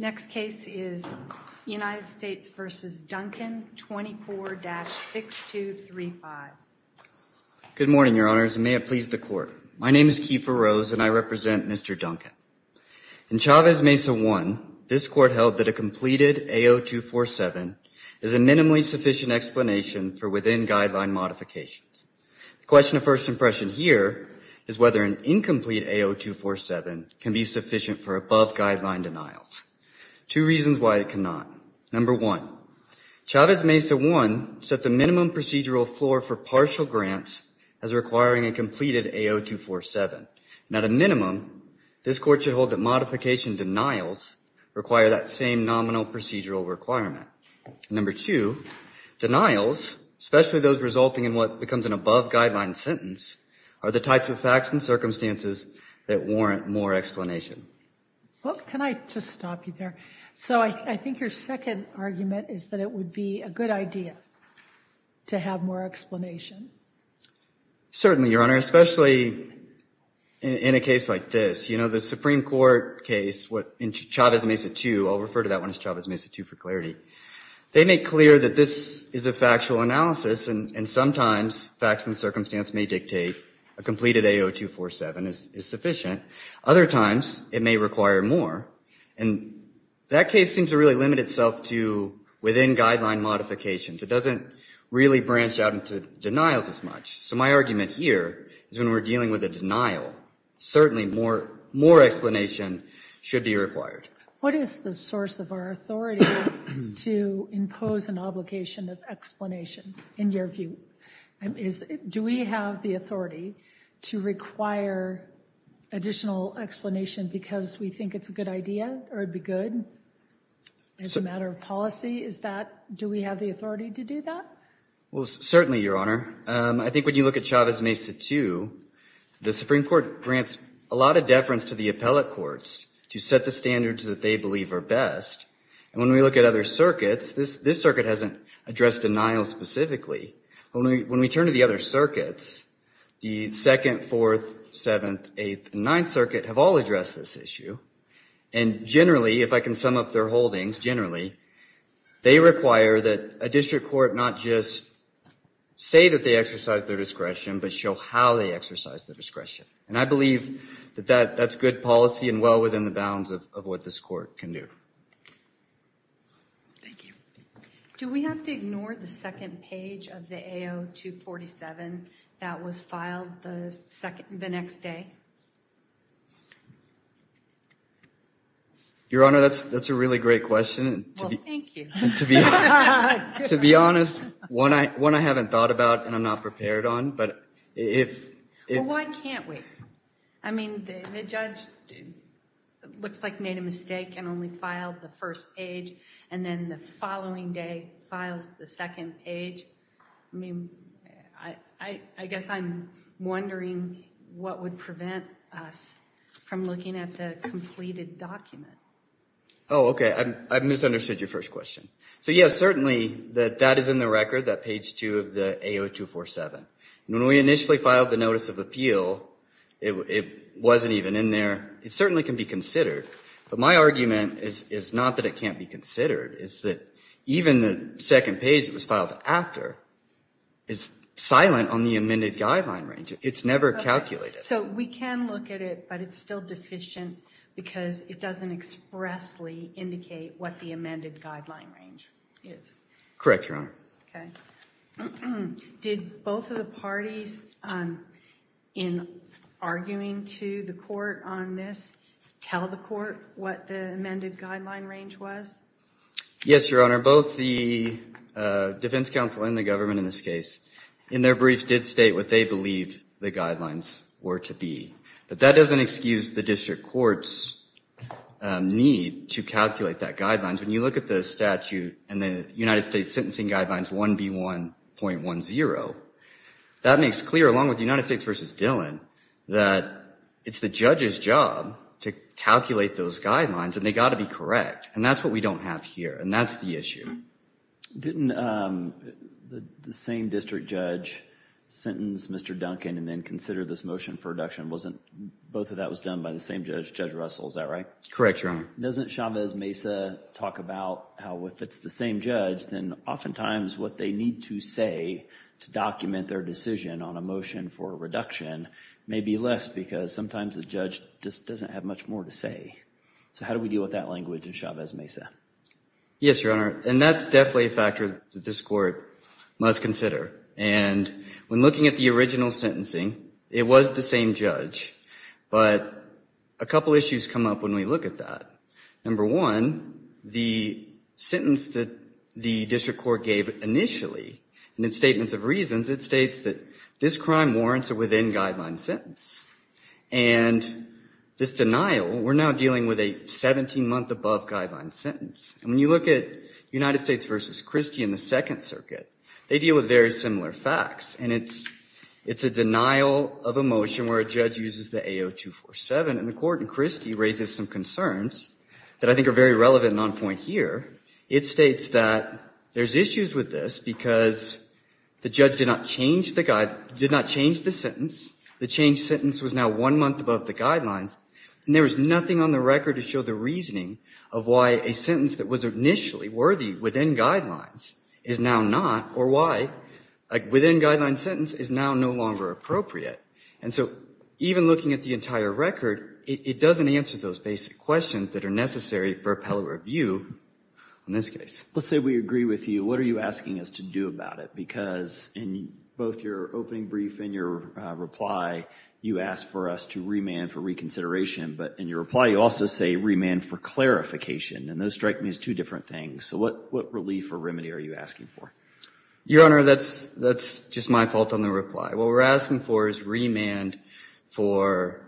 24-6235. Good morning, your honors, and may it please the court. My name is Kiefer Rose and I represent Mr. Duncan. In Chavez Mesa 1, this court held that a completed AO247 is a minimally sufficient explanation for within guideline modifications. The question of first impression here is whether an incomplete AO247 can be sufficient for above-guideline denials. Two reasons why it cannot. Number one, Chavez Mesa 1 set the minimum procedural floor for partial grants as requiring a completed AO247, and at a minimum, this court should hold that modification denials require that same nominal procedural requirement. Number two, denials, especially those resulting in what becomes an above-guideline sentence, are the types of facts and circumstances that warrant more explanation. Well, can I just stop you there? So I think your second argument is that it would be a good idea to have more explanation. Certainly, your honor, especially in a case like this. You know, the Supreme Court case, in Chavez Mesa 2, I'll refer to that one as Chavez Mesa 2 for clarity, they make clear that this is a factual analysis and sometimes facts and circumstance may dictate a completed AO247 is sufficient. Other times, it may require more, and that case seems to really limit itself to within guideline modifications. It doesn't really branch out into denials as much. So my argument here is when we're dealing with a denial, certainly more explanation should be required. What is the source of our authority to impose an obligation of explanation, in your view? Do we have the authority to require additional explanation because we think it's a good idea or it would be good as a matter of policy? Do we have the authority to do that? Well, certainly, your honor. I think when you look at Chavez Mesa 2, the Supreme Court grants a lot of deference to the appellate courts to set the standards that they believe are best. When we look at other circuits, this circuit hasn't addressed denials specifically. When we turn to the other circuits, the 2nd, 4th, 7th, 8th, and 9th Circuit have all addressed this issue and generally, if I can sum up their holdings, generally, they require that a district court not just say that they exercise their discretion but show how they exercise their discretion. I believe that that's good policy and well within the bounds of what this court can do. Thank you. Do we have to ignore the second page of the AO 247 that was filed the next day? Your honor, that's a really great question. Well, thank you. To be honest, one I haven't thought about and I'm not prepared on, but if... Well, why can't we? I mean, the judge looks like made a mistake and only filed the first page and then the following day files the second page. I mean, I guess I'm wondering what would prevent us from looking at the completed document. Oh, okay. I misunderstood your first question. So, yes, certainly that that is in the record, that page 2 of the AO 247. When we initially filed the notice of appeal, it wasn't even in there. It certainly can be considered, but my argument is not that it can't be considered. It's that even the second page that was filed after is silent on the amended guideline range. It's never calculated. So, we can look at it, but it's still deficient because it doesn't expressly indicate what the amended guideline range is. Correct, your honor. Okay. Did both of the parties in arguing to the court on this tell the court what the amended guideline range was? Yes, your honor. Both the defense counsel and the government in this case, in their brief, did state what they believed the guidelines were to be, but that doesn't excuse the district court's need to calculate that guidelines. When you look at the statute and the United States Sentencing Guidelines 1B1.10, that makes clear, along with the United States v. Dillon, that it's the judge's job to calculate those guidelines, and they've got to be correct, and that's what we don't have here, and that's the issue. Didn't the same district judge sentence Mr. Duncan and then consider this motion for Both of that was done by the same judge, Judge Russell, is that right? Correct, your honor. Doesn't Chavez-Mesa talk about how if it's the same judge, then oftentimes what they need to say to document their decision on a motion for a reduction may be less because sometimes the judge just doesn't have much more to say. So how do we deal with that language in Chavez-Mesa? Yes, your honor, and that's definitely a factor that this court must consider. And when looking at the original sentencing, it was the same judge, but a couple issues come up when we look at that. Number one, the sentence that the district court gave initially, and in Statements of Reasons, it states that this crime warrants a within-guideline sentence. And this denial, we're now dealing with a 17-month-above-guideline sentence. And when you look at United States v. Christie in the Second Circuit, they deal with very similar facts, and it's a denial of a motion where a judge uses the AO247, and the court in Christie raises some concerns that I think are very relevant and on point here. It states that there's issues with this because the judge did not change the sentence, the changed sentence was now one month above the guidelines, and there was nothing on the record to show the reasoning of why a sentence that was initially worthy within guidelines is now not, or why a within-guideline sentence is now no longer appropriate. And so even looking at the entire record, it doesn't answer those basic questions that are necessary for appellate review in this case. Let's say we agree with you. What are you asking us to do about it? Because in both your opening brief and your reply, you asked for us to remand for reconsideration, but in your reply you also say remand for clarification, and those strike me as two different things. So what relief or remedy are you asking for? Your Honor, that's just my fault on the reply. What we're asking for is remand for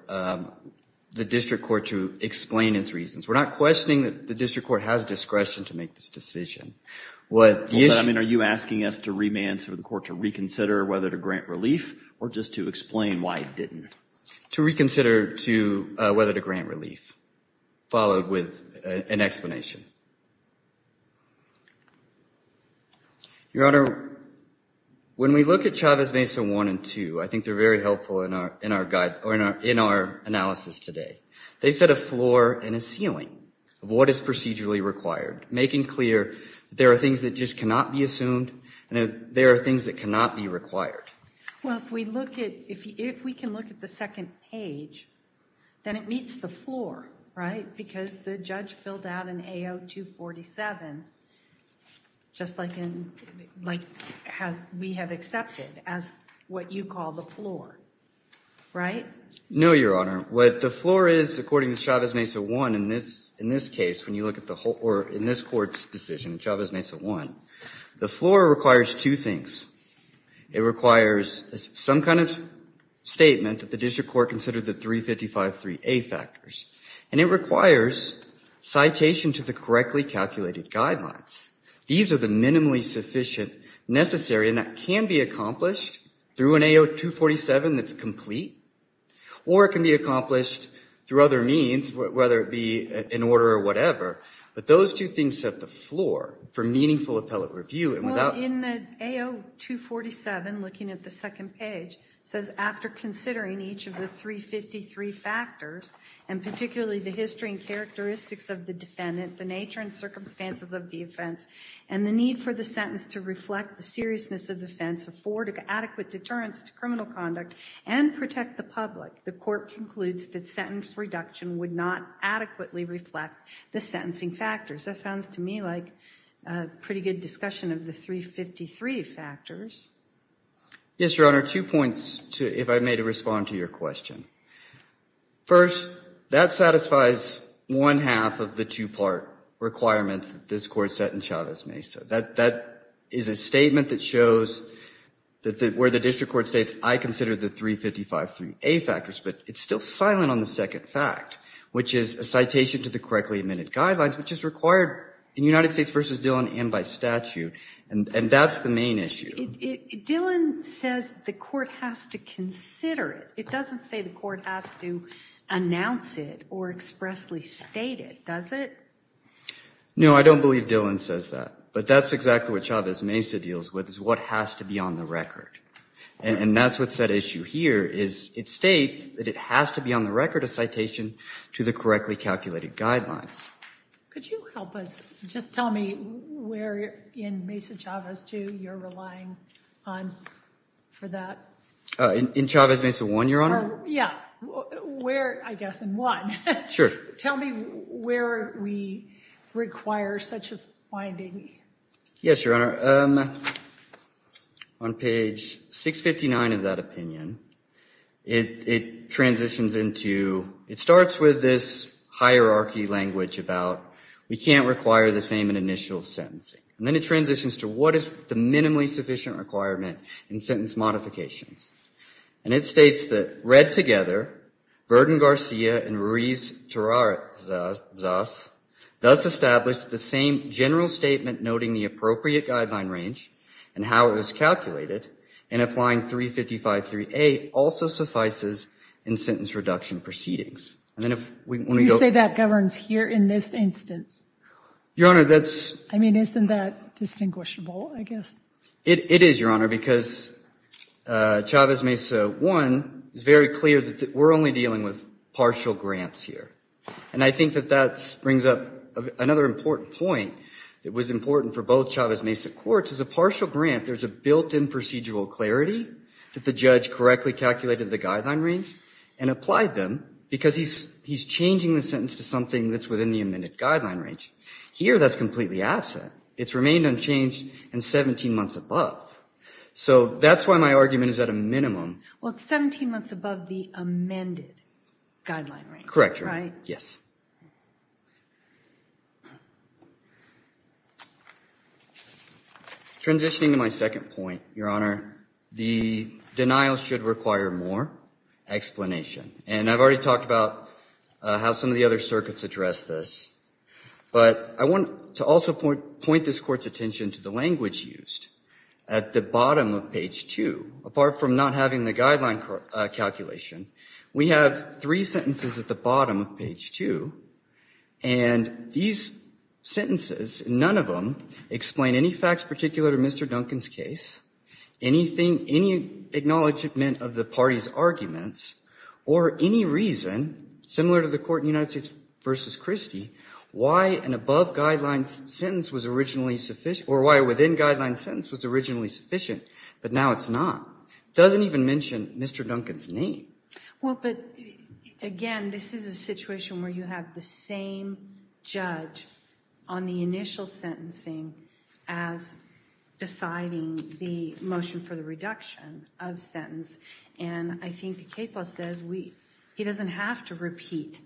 the district court to explain its reasons. We're not questioning that the district court has discretion to make this decision. What the issue- I mean, are you asking us to remand for the court to reconsider whether to grant relief, or just to explain why it didn't? To reconsider whether to grant relief, followed with an explanation. Your Honor, when we look at Chavez Mesa 1 and 2, I think they're very helpful in our guide, or in our analysis today. They set a floor and a ceiling of what is procedurally required, making clear there are things that just cannot be assumed, and there are things that cannot be required. Well, if we look at, if we can look at the second page, then it meets the floor, right? Because the judge filled out an AO 247, just like we have accepted, as what you call the floor, right? No, Your Honor. What the floor is, according to Chavez Mesa 1, in this case, when you look at the whole, or in this court's decision, Chavez Mesa 1, the floor requires two things. It requires some kind of statement that the district court considered the 355-3A factors. And it requires citation to the correctly calculated guidelines. These are the minimally sufficient necessary, and that can be accomplished through an AO 247 that's complete, or it can be accomplished through other means, whether it be an order or whatever. But those two things set the floor for meaningful appellate review, and without- Well, in the AO 247, looking at the second page, it says, after considering each of the 353 factors, and particularly the history and characteristics of the defendant, the nature and circumstances of the offense, and the need for the sentence to reflect the seriousness of the offense, afford adequate deterrence to criminal conduct, and protect the public, the court concludes that sentence reduction would not adequately reflect the sentencing factors. That sounds to me like a pretty good discussion of the 353 factors. Yes, Your Honor. Two points, if I may, to respond to your question. First, that satisfies one half of the two-part requirement that this Court set in Chavez-Mesa. That is a statement that shows that where the district court states, I consider the 355-3A factors, but it's still silent on the second fact, which is a citation to the correctly admitted guidelines, which is required in United States v. Dillon and by statute, and that's the main issue. Dillon says the court has to consider it. It doesn't say the court has to announce it or expressly state it, does it? No, I don't believe Dillon says that, but that's exactly what Chavez-Mesa deals with, is what has to be on the record, and that's what's at issue here, is it states that it has to be on the record a citation to the correctly calculated guidelines. Could you help us? Just tell me where in Mesa-Chavez 2 you're relying on for that? In Chavez-Mesa 1, Your Honor? Yeah. Where, I guess, in 1. Sure. Tell me where we require such a finding. Yes, Your Honor. On page 659 of that opinion, it transitions into, it starts with this hierarchy language about we can't require the same in initial sentencing, and then it transitions to what is the minimally sufficient requirement in sentence modifications, and it states that read together, Verdon-Garcia and Ruiz-Terrazas does establish the same general statement noting the appropriate guideline range and how it was calculated, and applying 355-3A also suffices in sentence reduction proceedings. You say that governs here in this instance? Your Honor, that's... I mean, isn't that distinguishable, I guess? It is, Your Honor, because Chavez-Mesa 1 is very clear that we're only dealing with partial grant. What's important for both Chavez-Mesa courts is a partial grant. There's a built-in procedural clarity that the judge correctly calculated the guideline range and applied them because he's changing the sentence to something that's within the amended guideline range. Here, that's completely absent. It's remained unchanged and 17 months above. So, that's why my argument is at a minimum. Well, it's 17 months above the amended guideline range, right? Correct, Your Honor. Yes. Transitioning to my second point, Your Honor, the denial should require more explanation. And I've already talked about how some of the other circuits address this, but I want to also point this Court's attention to the language used. At the bottom of page 2, apart from not having the guideline calculation, we have three sentences in page 2, and these sentences, none of them explain any facts particular to Mr. Duncan's case, any acknowledgment of the party's arguments, or any reason, similar to the court in United States v. Christie, why an above-guideline sentence was originally sufficient, or why a within-guideline sentence was originally sufficient, but now it's not. It doesn't even mention Mr. Duncan's name. Well, but, again, this is a situation where you have the same judge on the initial sentencing as deciding the motion for the reduction of sentence. And I think the case law says he doesn't have to repeat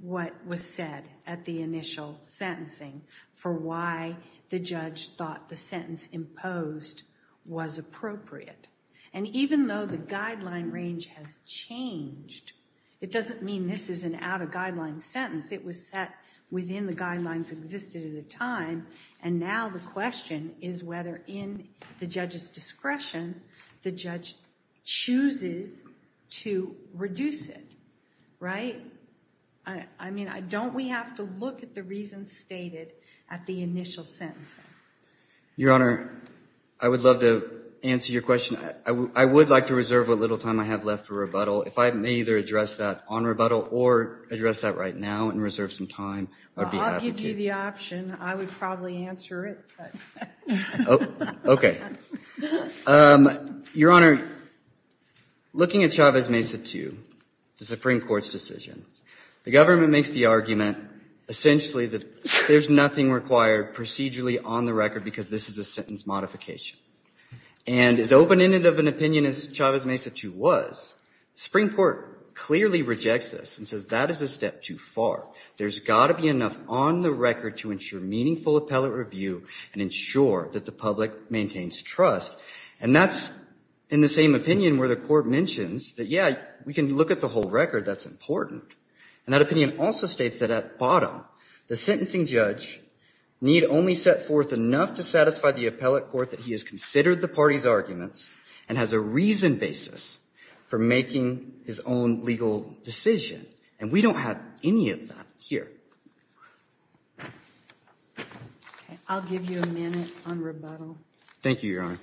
what was said at the initial sentencing for why the judge thought the sentence imposed was appropriate. And even though the guideline range has changed, it doesn't mean this is an out-of-guideline sentence. It was set within the guidelines existed at the time, and now the question is whether in the judge's discretion the judge chooses to reduce it, right? I mean, don't we have to look at the reasons stated at the initial sentencing? Your Honor, I would love to answer your question. I would like to reserve what little time I have left for rebuttal. If I may either address that on rebuttal or address that right now and reserve some time, I'd be happy to. Well, I'll give you the option. I would probably answer it. Okay. Your Honor, looking at Chavez Mesa 2, the Supreme Court's decision, the government makes the argument essentially that there's nothing required procedurally on the record because this is a sentence modification. And as open-ended of an opinion as Chavez Mesa 2 was, the Supreme Court clearly rejects this and says that is a step too far. There's got to be enough on the record to ensure meaningful appellate review and ensure that the public maintains trust. And that's in the same opinion where the Court mentions that, yeah, we can look at the whole record, that's important. And that opinion also states that at bottom, the sentencing judge need only set forth enough to satisfy the appellate court that he has considered the party's arguments and has a reasoned basis for making his own legal decision. And we don't have any of that here. Okay. I'll give you a minute on rebuttal. Thank you, Your Honor.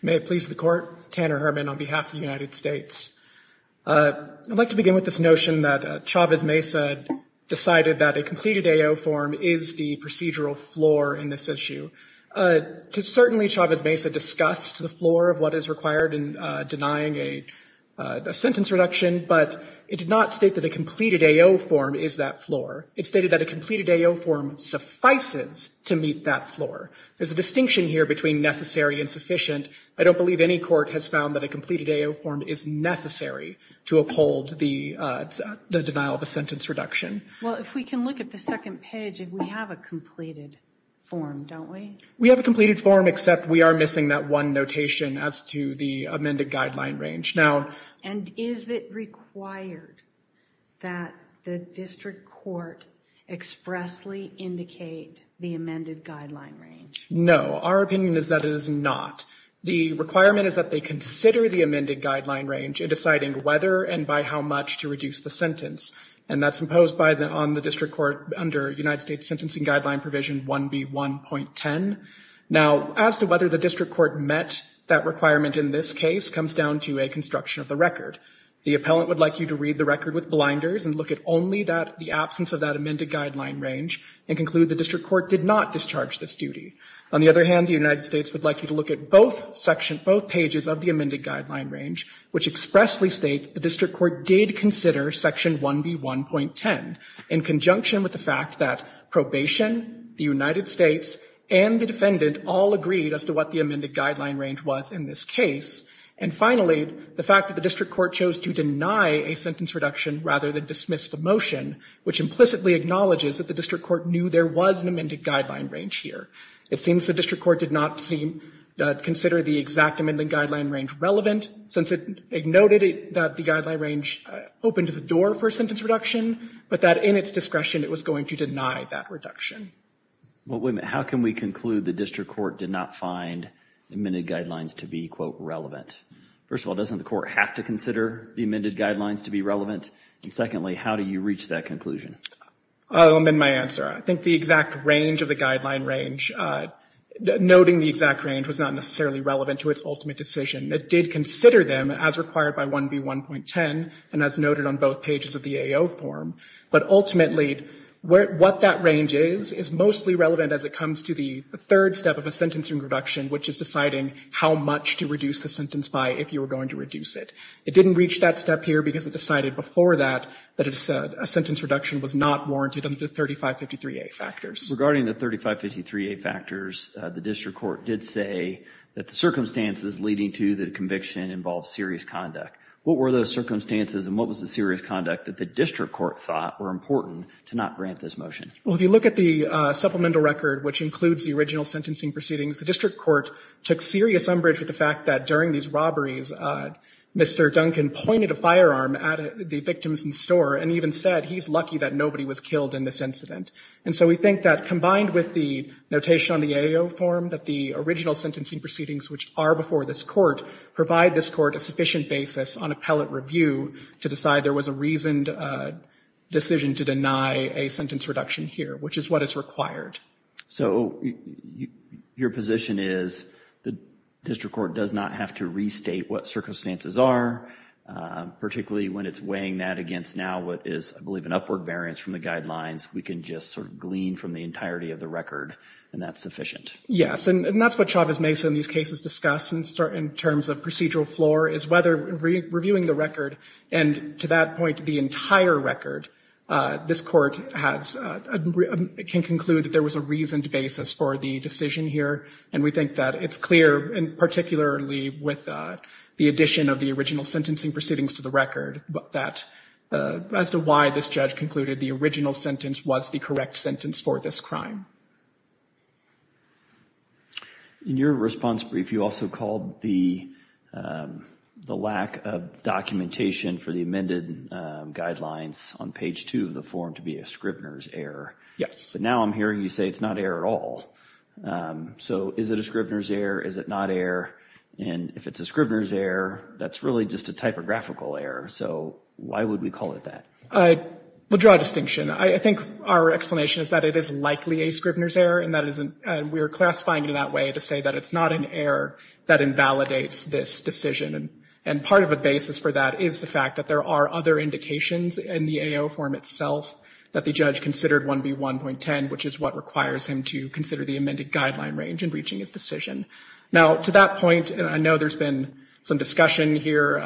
May it please the Court. Tanner Herman on behalf of the United States. I'd like to begin with this notion that Chavez Mesa decided that a completed AO form is the procedural floor in this issue. Certainly, Chavez Mesa discussed the floor of what is required in denying a sentence reduction, but it did not state that a completed AO form is that floor. It stated that a completed AO form suffices to meet that floor. There's a distinction here between necessary and sufficient. I don't believe any court has found that a completed AO form is necessary to uphold the denial of a sentence reduction. Well, if we can look at the second page, we have a completed form, don't we? We have a completed form, except we are missing that one notation as to the amended guideline range. And is it required that the district court expressly indicate the amended guideline range? No, our opinion is that it is not. The requirement is that they consider the amended guideline range in deciding whether and by how much to reduce the sentence. And that's imposed on the district court under United States Sentencing Guideline Provision 1B1.10. Now, as to whether the district court met that requirement in this case comes down to a construction of the record. The appellant would like you to read the record with blinders and look at only the absence of that amended guideline range and conclude the district court did not discharge this duty. On the other hand, the United States would like you to look at both pages of the amended guideline range, which expressly state the district court did consider Section 1B1.10 in conjunction with the fact that probation, the United States, and the defendant all agreed as to what the amended guideline range was in this case. And finally, the fact that the district court chose to deny a sentence reduction rather than dismiss the motion, which implicitly acknowledges that the district court knew there was an amended guideline range here. It seems the district court did not consider the exact amended guideline range relevant, since it noted that the guideline range opened the door for a sentence reduction, but that in its discretion it was going to deny that reduction. Well, wait a minute. How can we conclude the district court did not find the amended guidelines to be, quote, relevant? First of all, doesn't the court have to consider the amended guidelines to be And secondly, how do you reach that conclusion? I'll amend my answer. I think the exact range of the guideline range, noting the exact range was not necessarily relevant to its ultimate decision. It did consider them as required by 1B1.10 and as noted on both pages of the AO form, but ultimately what that range is, is mostly relevant as it comes to the third step of a sentence reduction, which is deciding how much to reduce the sentence by if you were going to reduce it. It didn't reach that step here because it decided before that that a sentence reduction was not warranted under the 3553A factors. Regarding the 3553A factors, the district court did say that the circumstances leading to the conviction involved serious conduct. What were those circumstances and what was the serious conduct that the district court thought were important to not grant this motion? Well, if you look at the supplemental record, which includes the original sentencing proceedings, the district court took serious umbrage with the fact that during these robberies, Mr. Duncan pointed a firearm at the victims in store and even said he's lucky that nobody was killed in this incident. And so we think that combined with the notation on the AO form, that the original sentencing proceedings, which are before this court, provide this court a sufficient basis on appellate review to decide there was a reasoned decision to deny a sentence reduction here, which is what is required. So your position is the district court does not have to restate what circumstances are, particularly when it's weighing that against now what is, I believe, an upward variance from the guidelines. We can just sort of glean from the entirety of the record and that's sufficient? Yes. And that's what Chavez-Mesa in these cases discuss in terms of procedural floor, is whether reviewing the record and to that point, the entire record, this court can conclude that there was a reasoned basis for the decision here. And we think that it's clear, and particularly with the addition of the original sentencing proceedings to the record, that as to why this judge concluded the original sentence was the correct sentence for this crime. In your response brief, you also called the lack of documentation for the amended guidelines on page two of the form to be a Scribner's error. Yes. But now I'm hearing you say it's not error at all. So is it a Scribner's error? Is it not error? And if it's a Scribner's error, that's really just a typographical error. So why would we call it that? I would draw a distinction. I think our explanation is that it is likely a Scribner's error and we are classifying it in that way to say that it's not an error that invalidates this decision. And part of a basis for that is the fact that there are other indications in the AO form itself that the judge considered 1B1.10, which is what requires him to consider the amended guideline range in reaching his decision. Now, to that point, and I know there's been some discussion here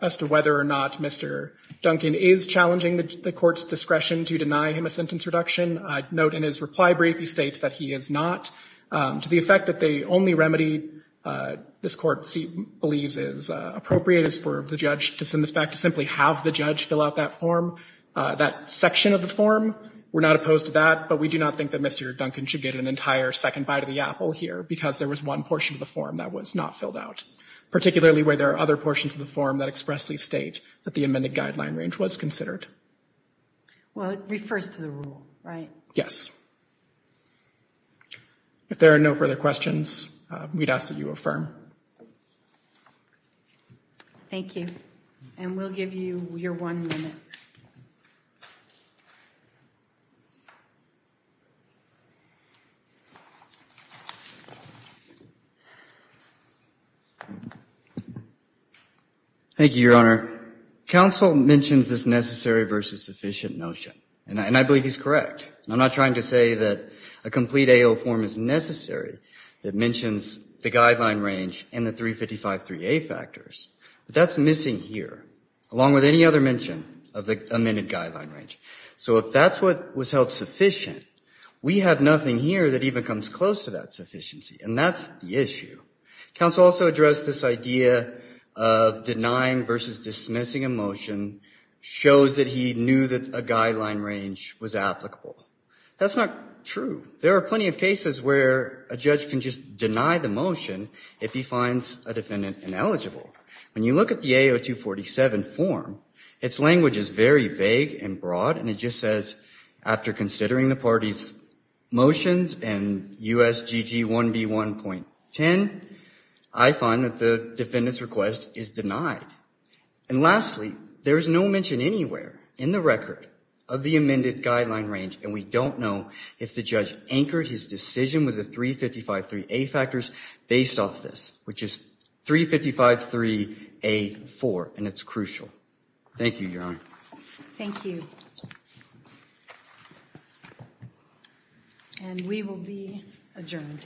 as to whether or not Mr. Duncan is challenging the court's discretion to deny him a sentence reduction. I note in his reply brief he states that he is not. To the effect that the only remedy this court believes is appropriate is for the judge to send this back to simply have the judge fill out that form, that section of the form. We're not opposed to that, but we do not think that Mr. Duncan should get an entire second bite of the apple here because there was one portion of the form that was not filled out. Particularly where there are other portions of the form that expressly state that the amended guideline range was considered. Well, it refers to the rule, right? Yes. If there are no further questions, we'd ask that you affirm. Thank you. And we'll give you your one minute. Thank you, Your Honor. Counsel mentions this necessary versus sufficient notion, and I believe he's correct. I'm not trying to say that a complete AO form is necessary that mentions the guideline range and the 355-3A factors. That's missing here, along with any other mention of the amended guideline range. So if that's what was held sufficient, we have nothing here that even comes close to that sufficiency, and that's the issue. Counsel also addressed this idea of denying versus dismissing a motion shows that he knew that a guideline range was applicable. That's not true. There are plenty of cases where a judge can just deny the motion if he finds a defendant ineligible. When you look at the AO 247 form, its language is very vague and broad, and it just says, after considering the party's motions and USGG 1B1.10, I find that the defendant's request is denied. And lastly, there's no mention anywhere in the record of the amended guideline range, and we don't know if the judge anchored his decision with the 355-3A factors based off this, which is 355-3A-4, and it's crucial. Thank you, Your Honor. Thank you. And we will be adjourned.